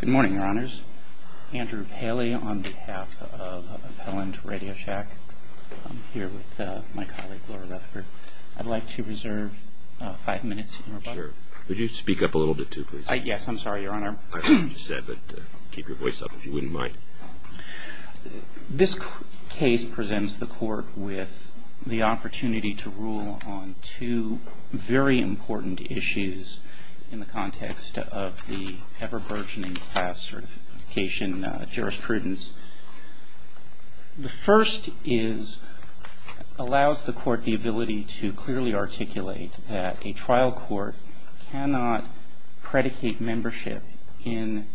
Good morning, Your Honors. Andrew Paley on behalf of Appellant Radio Shack. I'm here with my colleague, Laura Rutherford. I'd like to reserve five minutes. Sure. Could you speak up a little bit too, please? Yes, I'm sorry, Your Honor. I heard what you said, but keep your voice up if you wouldn't mind. This case presents the court with the opportunity to rule on two very important issues in the context of the ever-burgeoning class certification jurisprudence. The first is, allows the court the ability to clearly articulate that a trial court cannot predicate membership in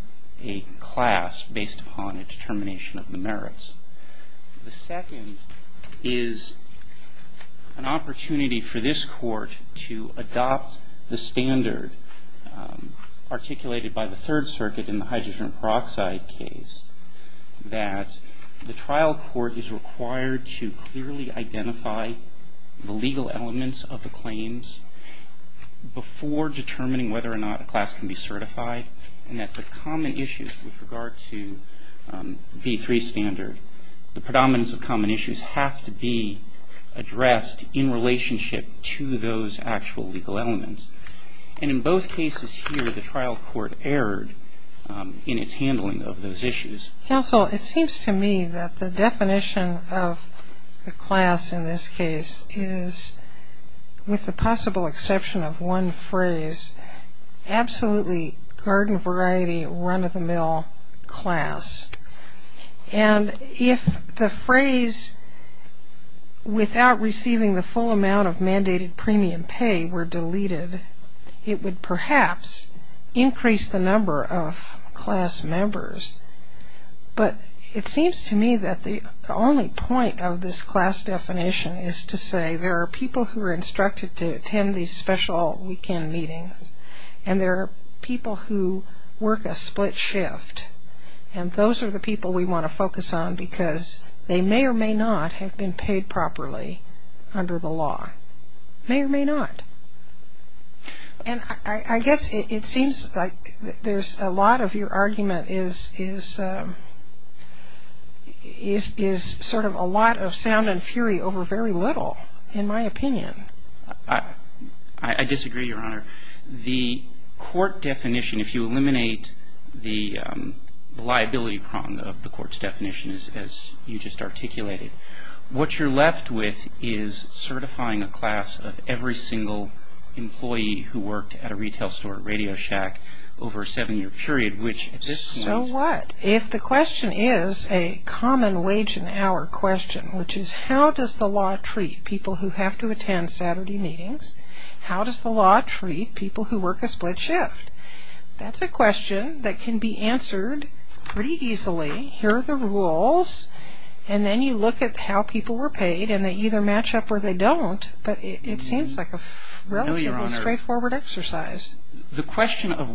a class based upon a determination of the merits. The second is an opportunity for this court to adopt the standard articulated by the Third Circuit in the hydrogen peroxide case that the trial court is required to clearly identify the legal elements of the claims before determining whether or not a class can be certified. And that the common issues with regard to B3 standard, the predominance of common issues have to be addressed in relationship to those actual legal elements. And in both cases here, the trial court erred in its handling of those issues. Counsel, it seems to me that the definition of the class in this case is, with the possible exception of one phrase, absolutely garden variety, run-of-the-mill class. And if the phrase, without receiving the full amount of mandated premium pay, were deleted, it would perhaps increase the number of class members. But it seems to me that the only point of this class definition is to say there are people who are instructed to attend these special weekend meetings, and there are people who work a split shift. And those are the people we want to focus on because they may or may not have been paid properly under the law. May or may not. And I guess it seems like there's a lot of your argument is sort of a lot of sound and fury over very little, in my opinion. I disagree, Your Honor. The court definition, if you eliminate the liability prong of the court's definition, as you just articulated, what you're left with is certifying a class of every single employee who worked at a retail store at Radio Shack over a seven-year period, which at this point... So what if the question is a common wage and hour question, which is how does the law treat people who have to attend Saturday meetings? How does the law treat people who work a split shift? That's a question that can be answered pretty easily. Here are the rules. And then you look at how people were paid, and they either match up or they don't. But it seems like a relatively straightforward exercise. The question of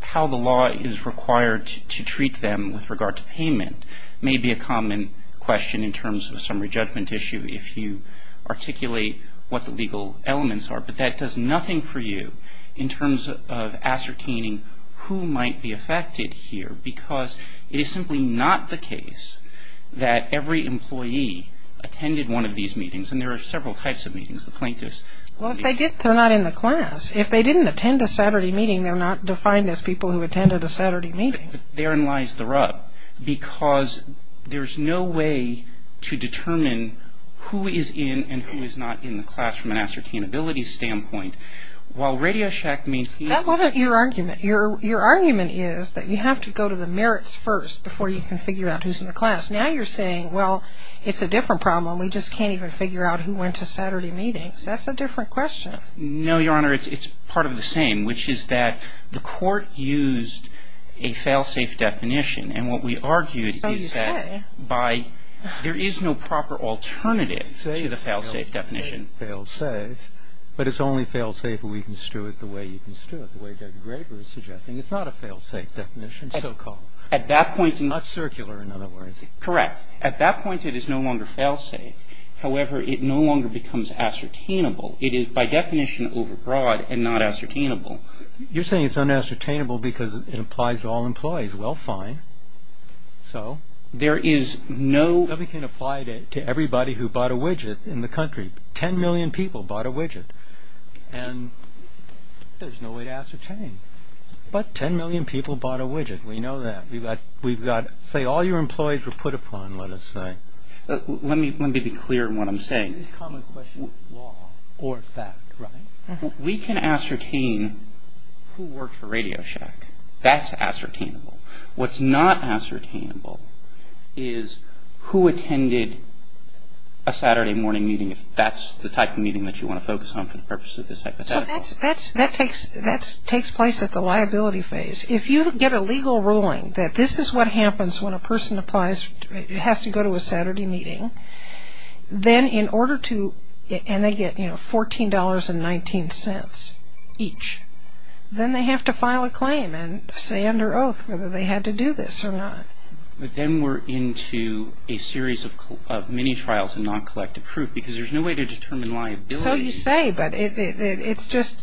how the law is required to treat them with regard to payment may be a common question in terms of summary judgment issue if you articulate what the legal elements are. But that does nothing for you in terms of ascertaining who might be affected here, because it is simply not the case that every employee attended one of these meetings. And there are several types of meetings, the plaintiffs... Well, if they did, they're not in the class. If they didn't attend a Saturday meeting, they're not defined as people who attended a Saturday meeting. But therein lies the rub, because there's no way to determine who is in and who is not in the class from an ascertainability standpoint. While RadioShack maintains... That wasn't your argument. Your argument is that you have to go to the merits first before you can figure out who's in the class. Now you're saying, well, it's a different problem. We just can't even figure out who went to Saturday meetings. That's a different question. No, Your Honor. It's part of the same, which is that the Court used a fail-safe definition. And what we argued is that by... That's all you say. There is no proper alternative to the fail-safe definition. Fail-safe. But it's only fail-safe if we construe it the way you construe it, the way Judge Graber is suggesting. It's not a fail-safe definition, so-called. At that point... It's not circular, in other words. Correct. At that point, it is no longer fail-safe. However, it no longer becomes ascertainable. It is, by definition, overbroad and not ascertainable. You're saying it's unascertainable because it applies to all employees. Well, fine. So? There is no... It can apply to everybody who bought a widget in the country. Ten million people bought a widget. And there's no way to ascertain. But ten million people bought a widget. We know that. We've got... Say all your employees were put upon, let us say. Let me be clear in what I'm saying. This common question of law or fact, right? We can ascertain who worked for Radio Shack. That's ascertainable. What's not ascertainable is who attended a Saturday morning meeting, if that's the type of meeting that you want to focus on for the purpose of this hypothetical. That takes place at the liability phase. If you get a legal ruling that this is what happens when a person applies, it has to go to a Saturday meeting, then in order to... And they get $14.19 each. Then they have to file a claim and say under oath whether they had to do this or not. But then we're into a series of mini-trials and non-collective proof because there's no way to determine liability. So you say, but it's just...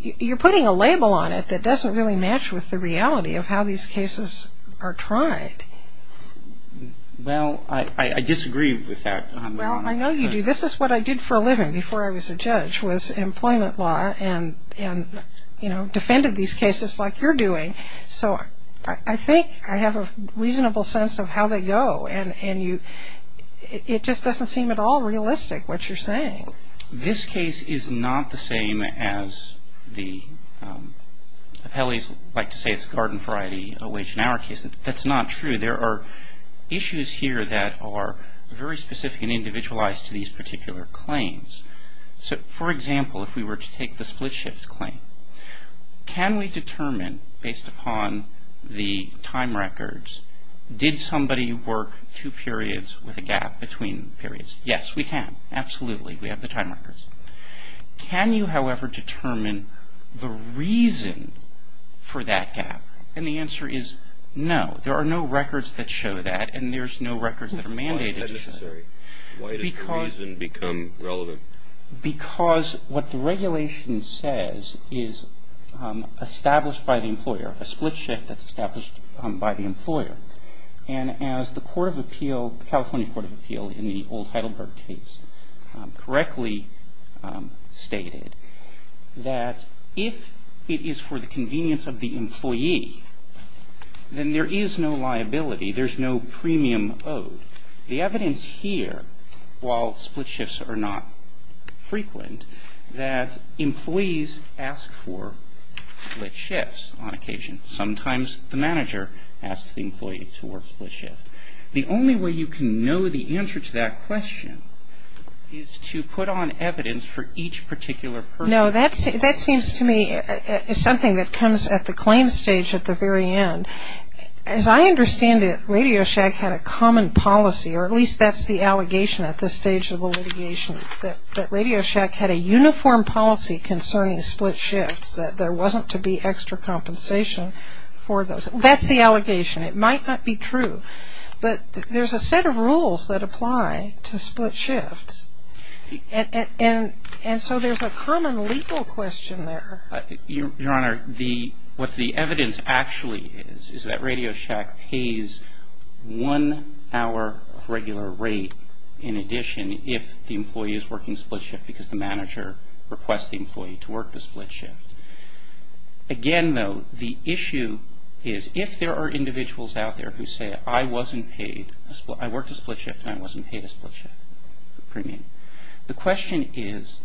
You're putting a label on it that doesn't really match with the reality of how these cases are tried. Well, I disagree with that. Well, I know you do. This is what I did for a living before I was a judge was employment law and defended these cases like you're doing. So I think I have a reasonable sense of how they go This case is not the same as the... Appellees like to say it's garden variety, a wage and hour case. That's not true. There are issues here that are very specific and individualized to these particular claims. For example, if we were to take the split shift claim, can we determine based upon the time records, did somebody work two periods with a gap between periods? Yes, we can. Absolutely, we have the time records. Can you, however, determine the reason for that gap? And the answer is no. There are no records that show that and there's no records that are mandated to show that. Why is that necessary? Why does the reason become relevant? Because what the regulation says is established by the employer, a split shift that's established by the employer. And as the Court of Appeal, the California Court of Appeal in the old Heidelberg case, correctly stated that if it is for the convenience of the employee, then there is no liability. There's no premium owed. The evidence here, while split shifts are not frequent, that employees ask for split shifts on occasion. Sometimes the manager asks the employee to work split shift. The only way you can know the answer to that question is to put on evidence for each particular person. No, that seems to me something that comes at the claim stage at the very end. As I understand it, Radio Shack had a common policy, or at least that's the allegation at this stage of the litigation, that Radio Shack had a uniform policy concerning split shifts, that there wasn't to be extra compensation for those. That's the allegation. It might not be true. But there's a set of rules that apply to split shifts. And so there's a common legal question there. Your Honor, what the evidence actually is is that Radio Shack pays one hour of regular rate in addition if the employee is working split shift because the manager requests the employee to work the split shift. Again, though, the issue is if there are individuals out there who say, I worked a split shift and I wasn't paid a split shift premium, the question is,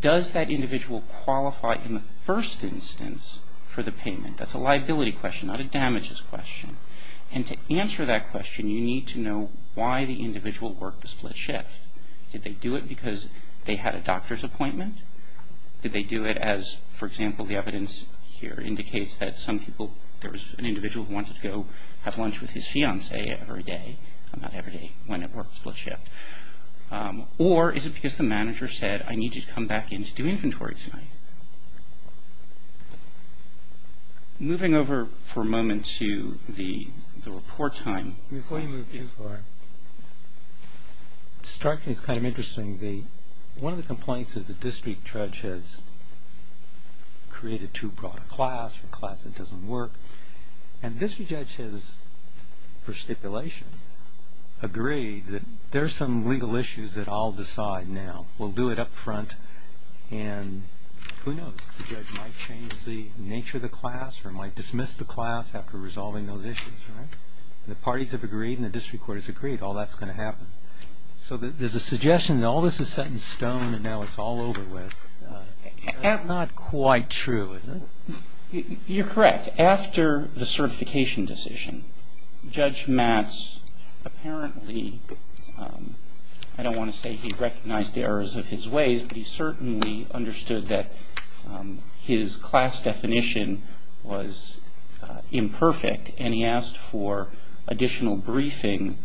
does that individual qualify in the first instance for the payment? That's a liability question, not a damages question. And to answer that question, you need to know why the individual worked the split shift. Did they do it because they had a doctor's appointment? Did they do it as, for example, the evidence here indicates that some people, there was an individual who wanted to go have lunch with his fiancee every day, not every day, when it worked split shift. Or is it because the manager said, I need you to come back in to do inventory tonight? Moving over for a moment to the report time. Before you move too far, it's kind of interesting. One of the complaints of the district judge has created too broad a class, a class that doesn't work, and the district judge has, for stipulation, agreed that there are some legal issues that I'll decide now. We'll do it up front, and who knows, the judge might change the nature of the class or might dismiss the class after resolving those issues, right? The parties have agreed and the district court has agreed, all that's going to happen. So there's a suggestion that all this is set in stone and now it's all over with. That's not quite true, is it? You're correct. After the certification decision, Judge Matz apparently, I don't want to say he recognized the errors of his ways, but he certainly understood that his class definition was imperfect and he asked for additional briefing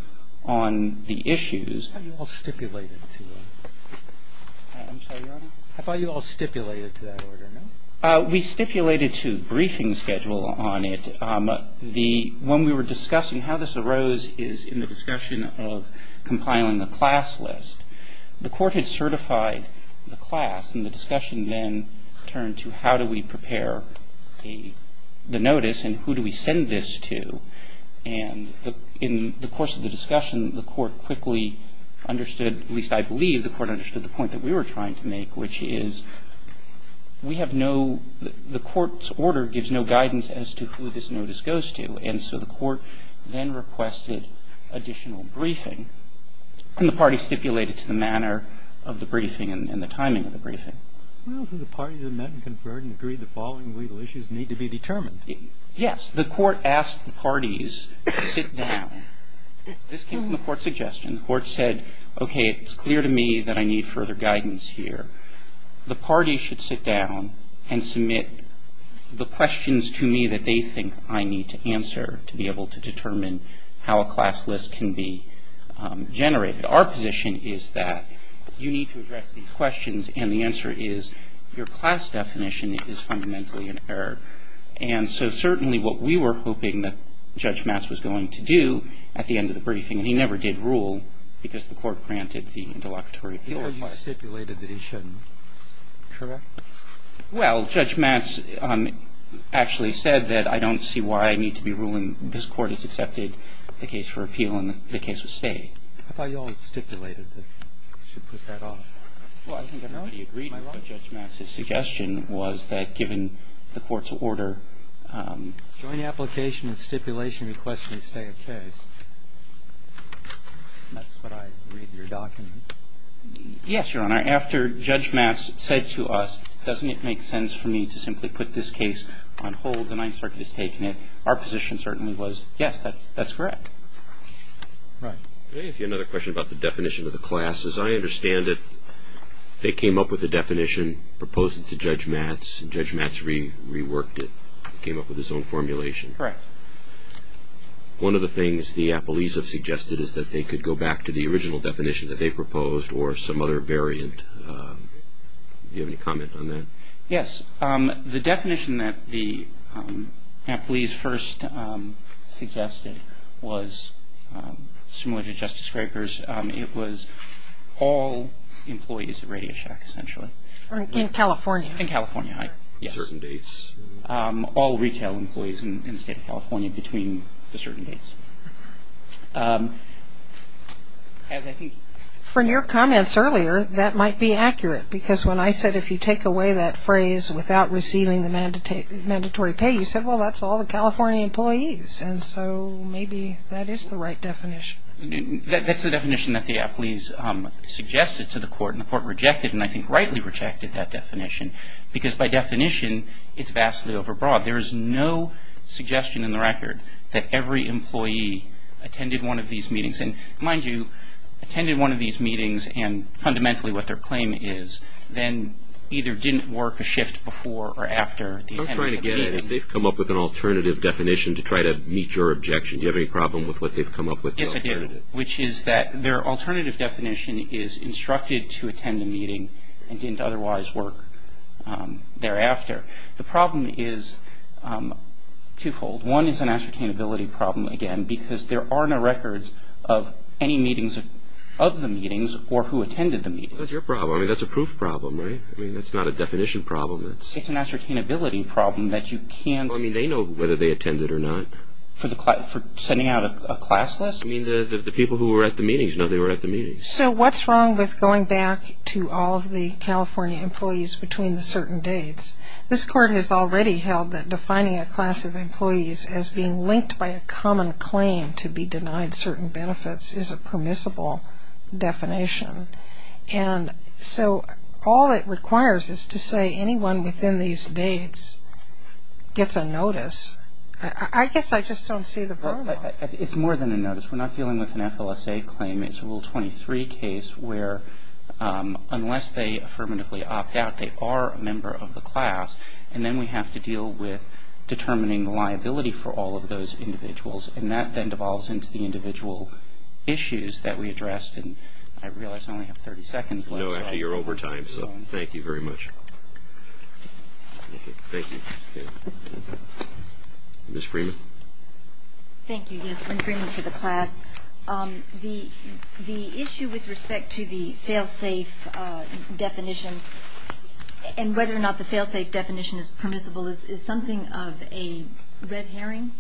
on the issues. Have you all stipulated to him? I'm sorry, Your Honor? Have you all stipulated to that order, no? We stipulated to briefing schedule on it. When we were discussing how this arose is in the discussion of compiling a class list. The court had certified the class, and the discussion then turned to how do we prepare the notice and who do we send this to, and in the course of the discussion, the court quickly understood, at least I believe the court understood the point that we were trying to make, which is we have no, the court's order gives no guidance as to who this notice goes to, and so the court then requested additional briefing, and the party stipulated to the manner of the briefing and the timing of the briefing. The parties have met and conferred and agreed the following legal issues need to be determined. Yes. The court asked the parties to sit down. This came from the court's suggestion. The court said, okay, it's clear to me that I need further guidance here. The party should sit down and submit the questions to me that they think I need to answer to be able to determine how a class list can be generated. Our position is that you need to address these questions, and the answer is your class definition is fundamentally in error. And so certainly what we were hoping that Judge Matz was going to do at the end of the briefing, and he never did rule because the court granted the interlocutory appeal request. I thought you stipulated that he shouldn't. Correct? Well, Judge Matz actually said that I don't see why I need to be ruling. This court has accepted the case for appeal, and the case will stay. I thought you all had stipulated that you should put that off. Well, I think everybody agreed with Judge Matz's suggestion was that given the court's order. Joint application and stipulation request will stay the case. That's what I read in your documents. Yes, Your Honor. After Judge Matz said to us, doesn't it make sense for me to simply put this case on hold? The Ninth Circuit has taken it. Our position certainly was, yes, that's correct. Right. I have another question about the definition of the class. As I understand it, they came up with a definition, proposed it to Judge Matz, and Judge Matz reworked it. He came up with his own formulation. Correct. One of the things the Applees have suggested is that they could go back to the original definition that they proposed or some other variant. Do you have any comment on that? Yes. The definition that the Applees first suggested was similar to Justice Scraper's. It was all employees at Radio Shack, essentially. In California. In California, yes. Certain dates. All retail employees in the State of California between the certain dates. From your comments earlier, that might be accurate, because when I said if you take away that phrase without receiving the mandatory pay, you said, well, that's all the California employees, and so maybe that is the right definition. That's the definition that the Applees suggested to the Court, because by definition, it's vastly overbroad. There is no suggestion in the record that every employee attended one of these meetings. And mind you, attended one of these meetings, and fundamentally what their claim is, then either didn't work a shift before or after the attendance of the meeting. I'm trying to get at it. They've come up with an alternative definition to try to meet your objection. Do you have any problem with what they've come up with? Yes, I do, which is that their alternative definition is instructed to attend a meeting and didn't otherwise work thereafter. The problem is twofold. One is an ascertainability problem, again, because there are no records of any meetings of the meetings or who attended the meetings. That's your problem. I mean, that's a proof problem, right? I mean, that's not a definition problem. It's an ascertainability problem that you can't. I mean, they know whether they attended or not. For sending out a class list? I mean, the people who were at the meetings know they were at the meetings. So what's wrong with going back to all of the California employees between the certain dates? This Court has already held that defining a class of employees as being linked by a common claim to be denied certain benefits is a permissible definition. And so all it requires is to say anyone within these dates gets a notice. I guess I just don't see the problem. It's more than a notice. We're not dealing with an FLSA claim. It's a Rule 23 case where unless they affirmatively opt out, they are a member of the class. And then we have to deal with determining the liability for all of those individuals. And that then devolves into the individual issues that we addressed. And I realize I only have 30 seconds left. No, actually, you're over time. So thank you very much. Thank you. Ms. Freeman. Thank you. Yes, I'm Freeman for the class. The issue with respect to the fail-safe definition and whether or not the fail-safe definition is permissible is something of a red herring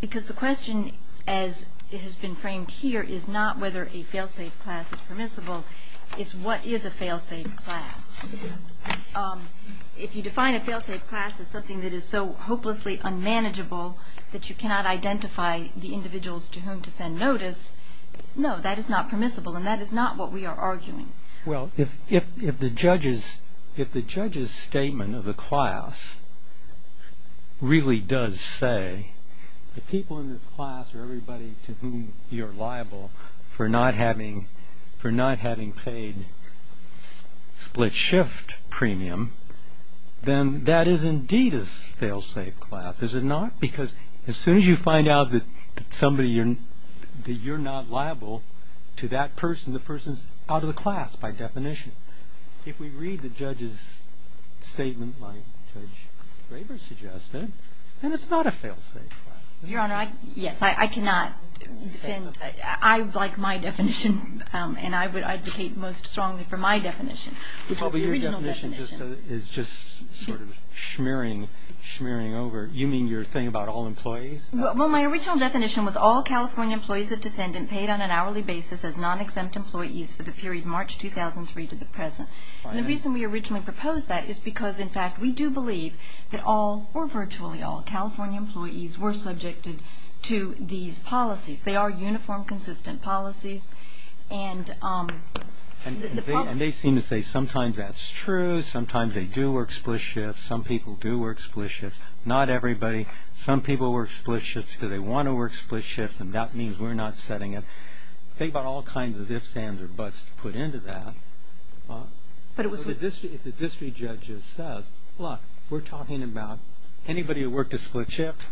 because the question, as it has been framed here, is not whether a fail-safe class is permissible. It's what is a fail-safe class. If you define a fail-safe class as something that is so hopelessly unmanageable that you cannot identify the individuals to whom to send notice, no, that is not permissible, and that is not what we are arguing. Well, if the judge's statement of the class really does say the people in this class are everybody to whom you're liable for not having paid split-shift premium, then that is indeed a fail-safe class, is it not? Because as soon as you find out that you're not liable to that person, the person is out of the class by definition. If we read the judge's statement like Judge Graber suggested, then it's not a fail-safe class. Your Honor, yes, I cannot defend. I like my definition, and I would advocate most strongly for my definition, which is the original definition. Your definition is just sort of smearing over. You mean your thing about all employees? Well, my original definition was all California employees of defendant paid on an hourly basis as non-exempt employees for the period March 2003 to the present. And the reason we originally proposed that is because, in fact, we do believe that all or virtually all California employees were subjected to these policies. They are uniform, consistent policies. And they seem to say sometimes that's true. Sometimes they do work split shifts. Some people do work split shifts. Not everybody. Some people work split shifts because they want to work split shifts, and that means we're not setting it. Think about all kinds of ifs, ands, or buts put into that. If the district judge says, look, we're talking about anybody who worked a split shift,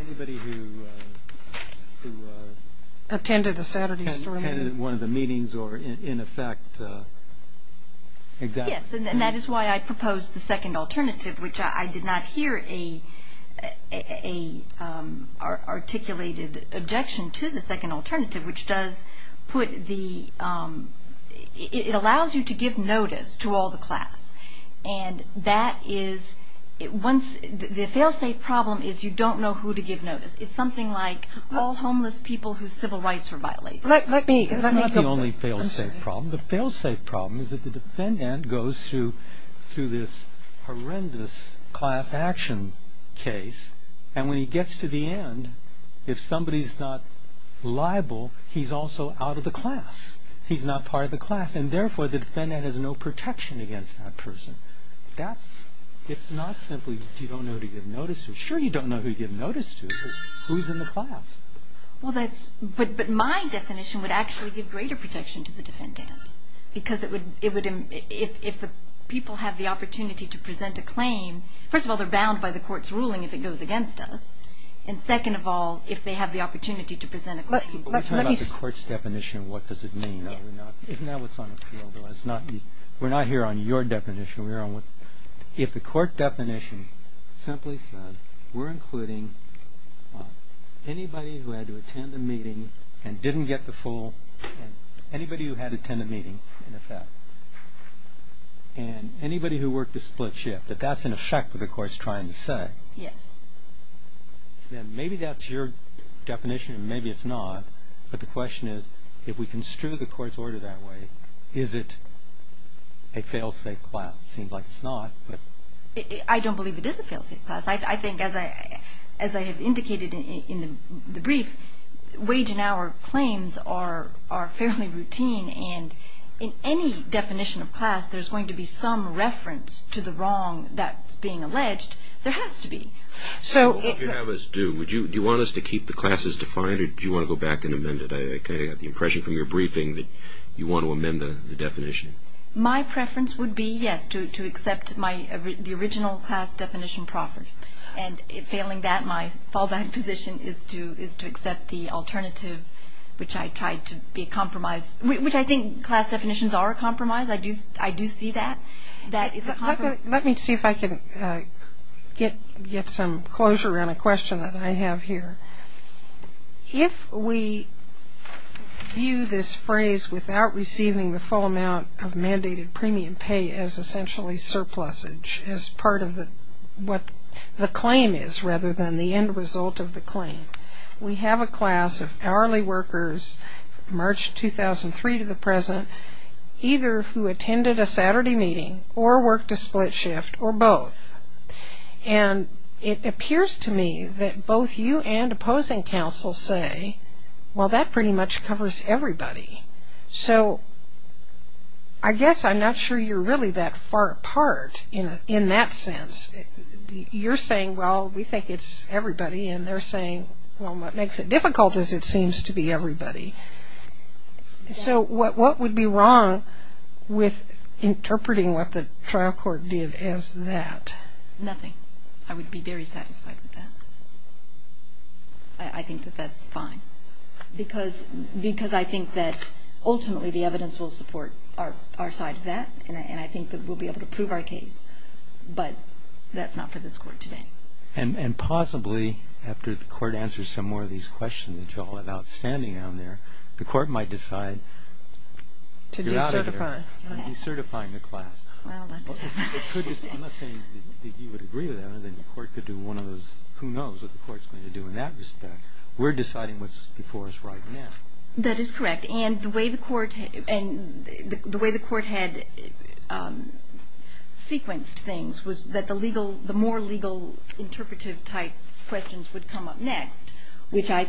anybody who attended a Saturday story meeting. Attended one of the meetings or, in effect, exactly. Yes, and that is why I proposed the second alternative, which I did not hear an articulated objection to the second alternative, which does put the ‑‑ it allows you to give notice to all the class. And that is once ‑‑ the fail safe problem is you don't know who to give notice. It's something like all homeless people whose civil rights were violated. Let me. It's not the only fail safe problem. The fail safe problem is that the defendant goes through this horrendous class action case, and when he gets to the end, if somebody's not liable, he's also out of the class. He's not part of the class. Yes, and therefore the defendant has no protection against that person. That's ‑‑ it's not simply you don't know who to give notice to. Sure, you don't know who to give notice to, but who's in the class? Well, that's ‑‑ but my definition would actually give greater protection to the defendant because it would ‑‑ if the people have the opportunity to present a claim, first of all, they're bound by the court's ruling if it goes against us, and second of all, if they have the opportunity to present a claim. When we talk about the court's definition, what does it mean? Isn't that what's on appeal? We're not here on your definition. If the court definition simply says we're including anybody who had to attend a meeting and didn't get the full ‑‑ anybody who had to attend a meeting, in effect, and anybody who worked a split shift, if that's in effect what the court's trying to say, Yes. Then maybe that's your definition and maybe it's not, but the question is if we construe the court's order that way, is it a failsafe class? It seems like it's not. I don't believe it is a failsafe class. I think as I have indicated in the brief, wage and hour claims are fairly routine, and in any definition of class there's going to be some reference to the wrong that's being alleged. There has to be. So what would you have us do? Do you want us to keep the classes defined or do you want to go back and amend it? I kind of got the impression from your briefing that you want to amend the definition. My preference would be, yes, to accept the original class definition proffer, and failing that my fallback position is to accept the alternative, which I tried to be a compromise, which I think class definitions are a compromise. I do see that. Let me see if I can get some closure on a question that I have here. If we view this phrase without receiving the full amount of mandated premium pay as essentially surplusage, as part of what the claim is rather than the end result of the claim, we have a class of hourly workers, March 2003 to the present, either who attended a Saturday meeting or worked a split shift or both. And it appears to me that both you and opposing counsel say, well, that pretty much covers everybody. So I guess I'm not sure you're really that far apart in that sense. You're saying, well, we think it's everybody, and they're saying, well, what makes it difficult is it seems to be everybody. So what would be wrong with interpreting what the trial court did as that? Nothing. I would be very satisfied with that. I think that that's fine. Because I think that ultimately the evidence will support our side of that, and I think that we'll be able to prove our case, but that's not for this court today. And possibly after the court answers some more of these questions that you all have outstanding on there, the court might decide to get out of here. To decertify. Decertifying the class. Well, that could happen. I'm not saying that you would agree with that, other than the court could do one of those who knows what the court's going to do in that respect. We're deciding what's before us right now. That is correct. And the way the court had sequenced things was that the more legal interpretive type questions would come up next, which I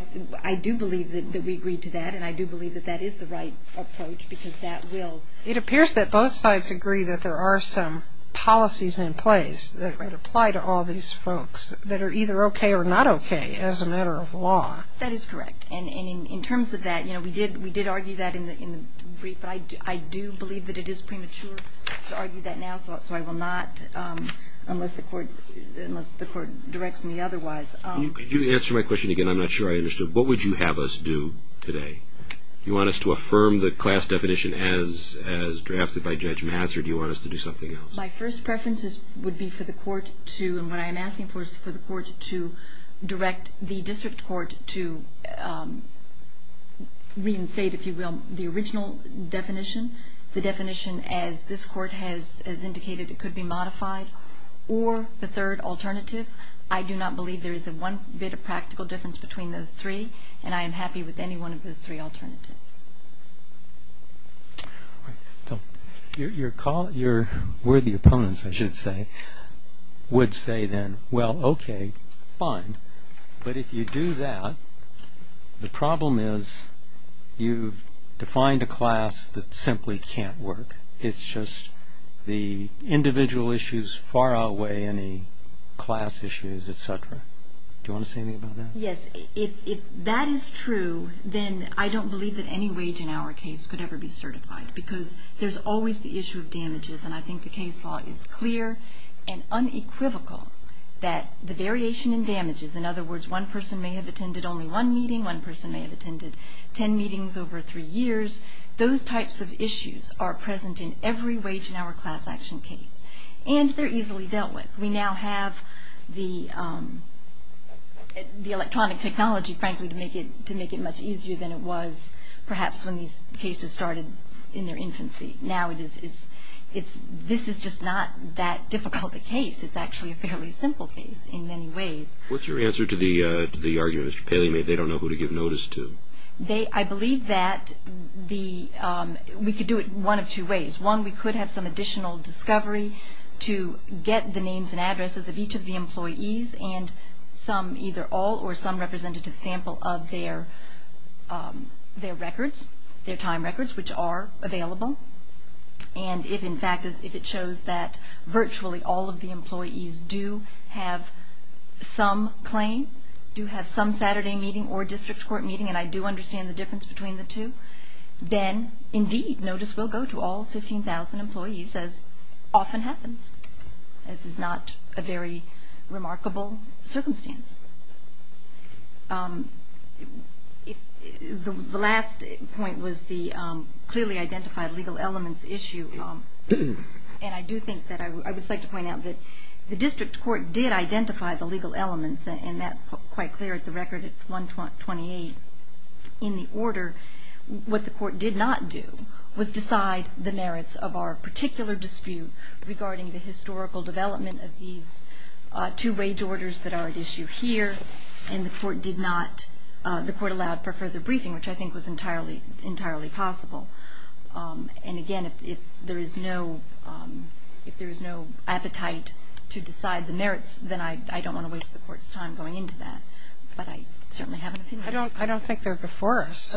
do believe that we agreed to that, and I do believe that that is the right approach because that will... It appears that both sides agree that there are some policies in place that apply to all these folks that are either okay or not okay as a matter of law. That is correct. And in terms of that, you know, we did argue that in the brief, but I do believe that it is premature to argue that now, so I will not unless the court directs me otherwise. Could you answer my question again? I'm not sure I understood. What would you have us do today? Do you want us to affirm the class definition as drafted by Judge Mazur, or do you want us to do something else? My first preference would be for the court to, and what I am asking for is for the court to direct the district court to reinstate, if you will, the original definition, the definition as this court has indicated it could be modified, or the third alternative. I do not believe there is one bit of practical difference between those three, and I am happy with any one of those three alternatives. Your worthy opponents, I should say, would say then, well, okay, fine, but if you do that, the problem is you've defined a class that simply can't work. It's just the individual issues far outweigh any class issues, et cetera. Do you want to say anything about that? Yes. If that is true, then I don't believe that any wage and hour case could ever be certified because there's always the issue of damages, and I think the case law is clear and unequivocal that the variation in damages, in other words, one person may have attended only one meeting, one person may have attended ten meetings over three years, those types of issues are present in every wage and hour class action case, and they're easily dealt with. We now have the electronic technology, frankly, to make it much easier than it was perhaps when these cases started in their infancy. Now this is just not that difficult a case. It's actually a fairly simple case in many ways. What's your answer to the argument Mr. Paley made, they don't know who to give notice to? I believe that we could do it one of two ways. One, we could have some additional discovery to get the names and addresses of each of the employees and some either all or some representative sample of their records, their time records, which are available, and if in fact it shows that virtually all of the employees do have some claim, do have some Saturday meeting or district court meeting, and I do understand the difference between the two, then indeed notice will go to all 15,000 employees as often happens. This is not a very remarkable circumstance. The last point was the clearly identified legal elements issue, and I do think that I would just like to point out that the district court did identify the legal elements, and that's quite clear at the record at 128 in the order. What the court did not do was decide the merits of our particular dispute regarding the historical development of these two wage orders that are at issue here, and the court did not, the court allowed for further briefing, which I think was entirely possible. And again, if there is no appetite to decide the merits, then I don't want to waste the court's time going into that, but I certainly have an opinion. I don't think they're before us,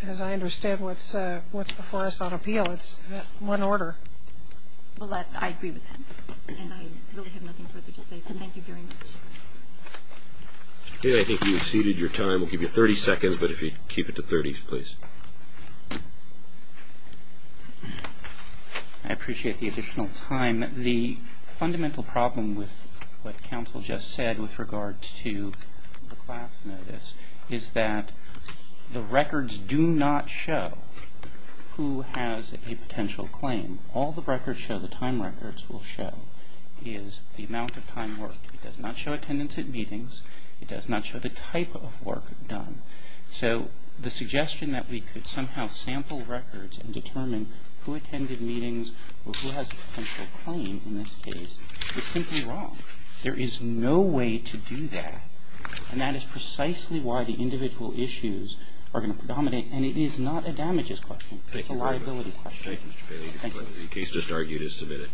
because I understand what's before us on appeal. It's one order. Well, I agree with that, and I really have nothing further to say, so thank you very much. I think you exceeded your time. We'll give you 30 seconds, but if you keep it to 30, please. I appreciate the additional time. The fundamental problem with what counsel just said with regard to the class notice is that the records do not show who has a potential claim. All the records show, the time records will show, is the amount of time worked. It does not show attendance at meetings. It does not show the type of work done. So the suggestion that we could somehow sample records and determine who attended meetings or who has a potential claim in this case is simply wrong. There is no way to do that, and that is precisely why the individual issues are going to predominate, and it is not a damages question. It's a liability question. Thank you very much. Thank you, Mr. Bailey. The case just argued is submitted.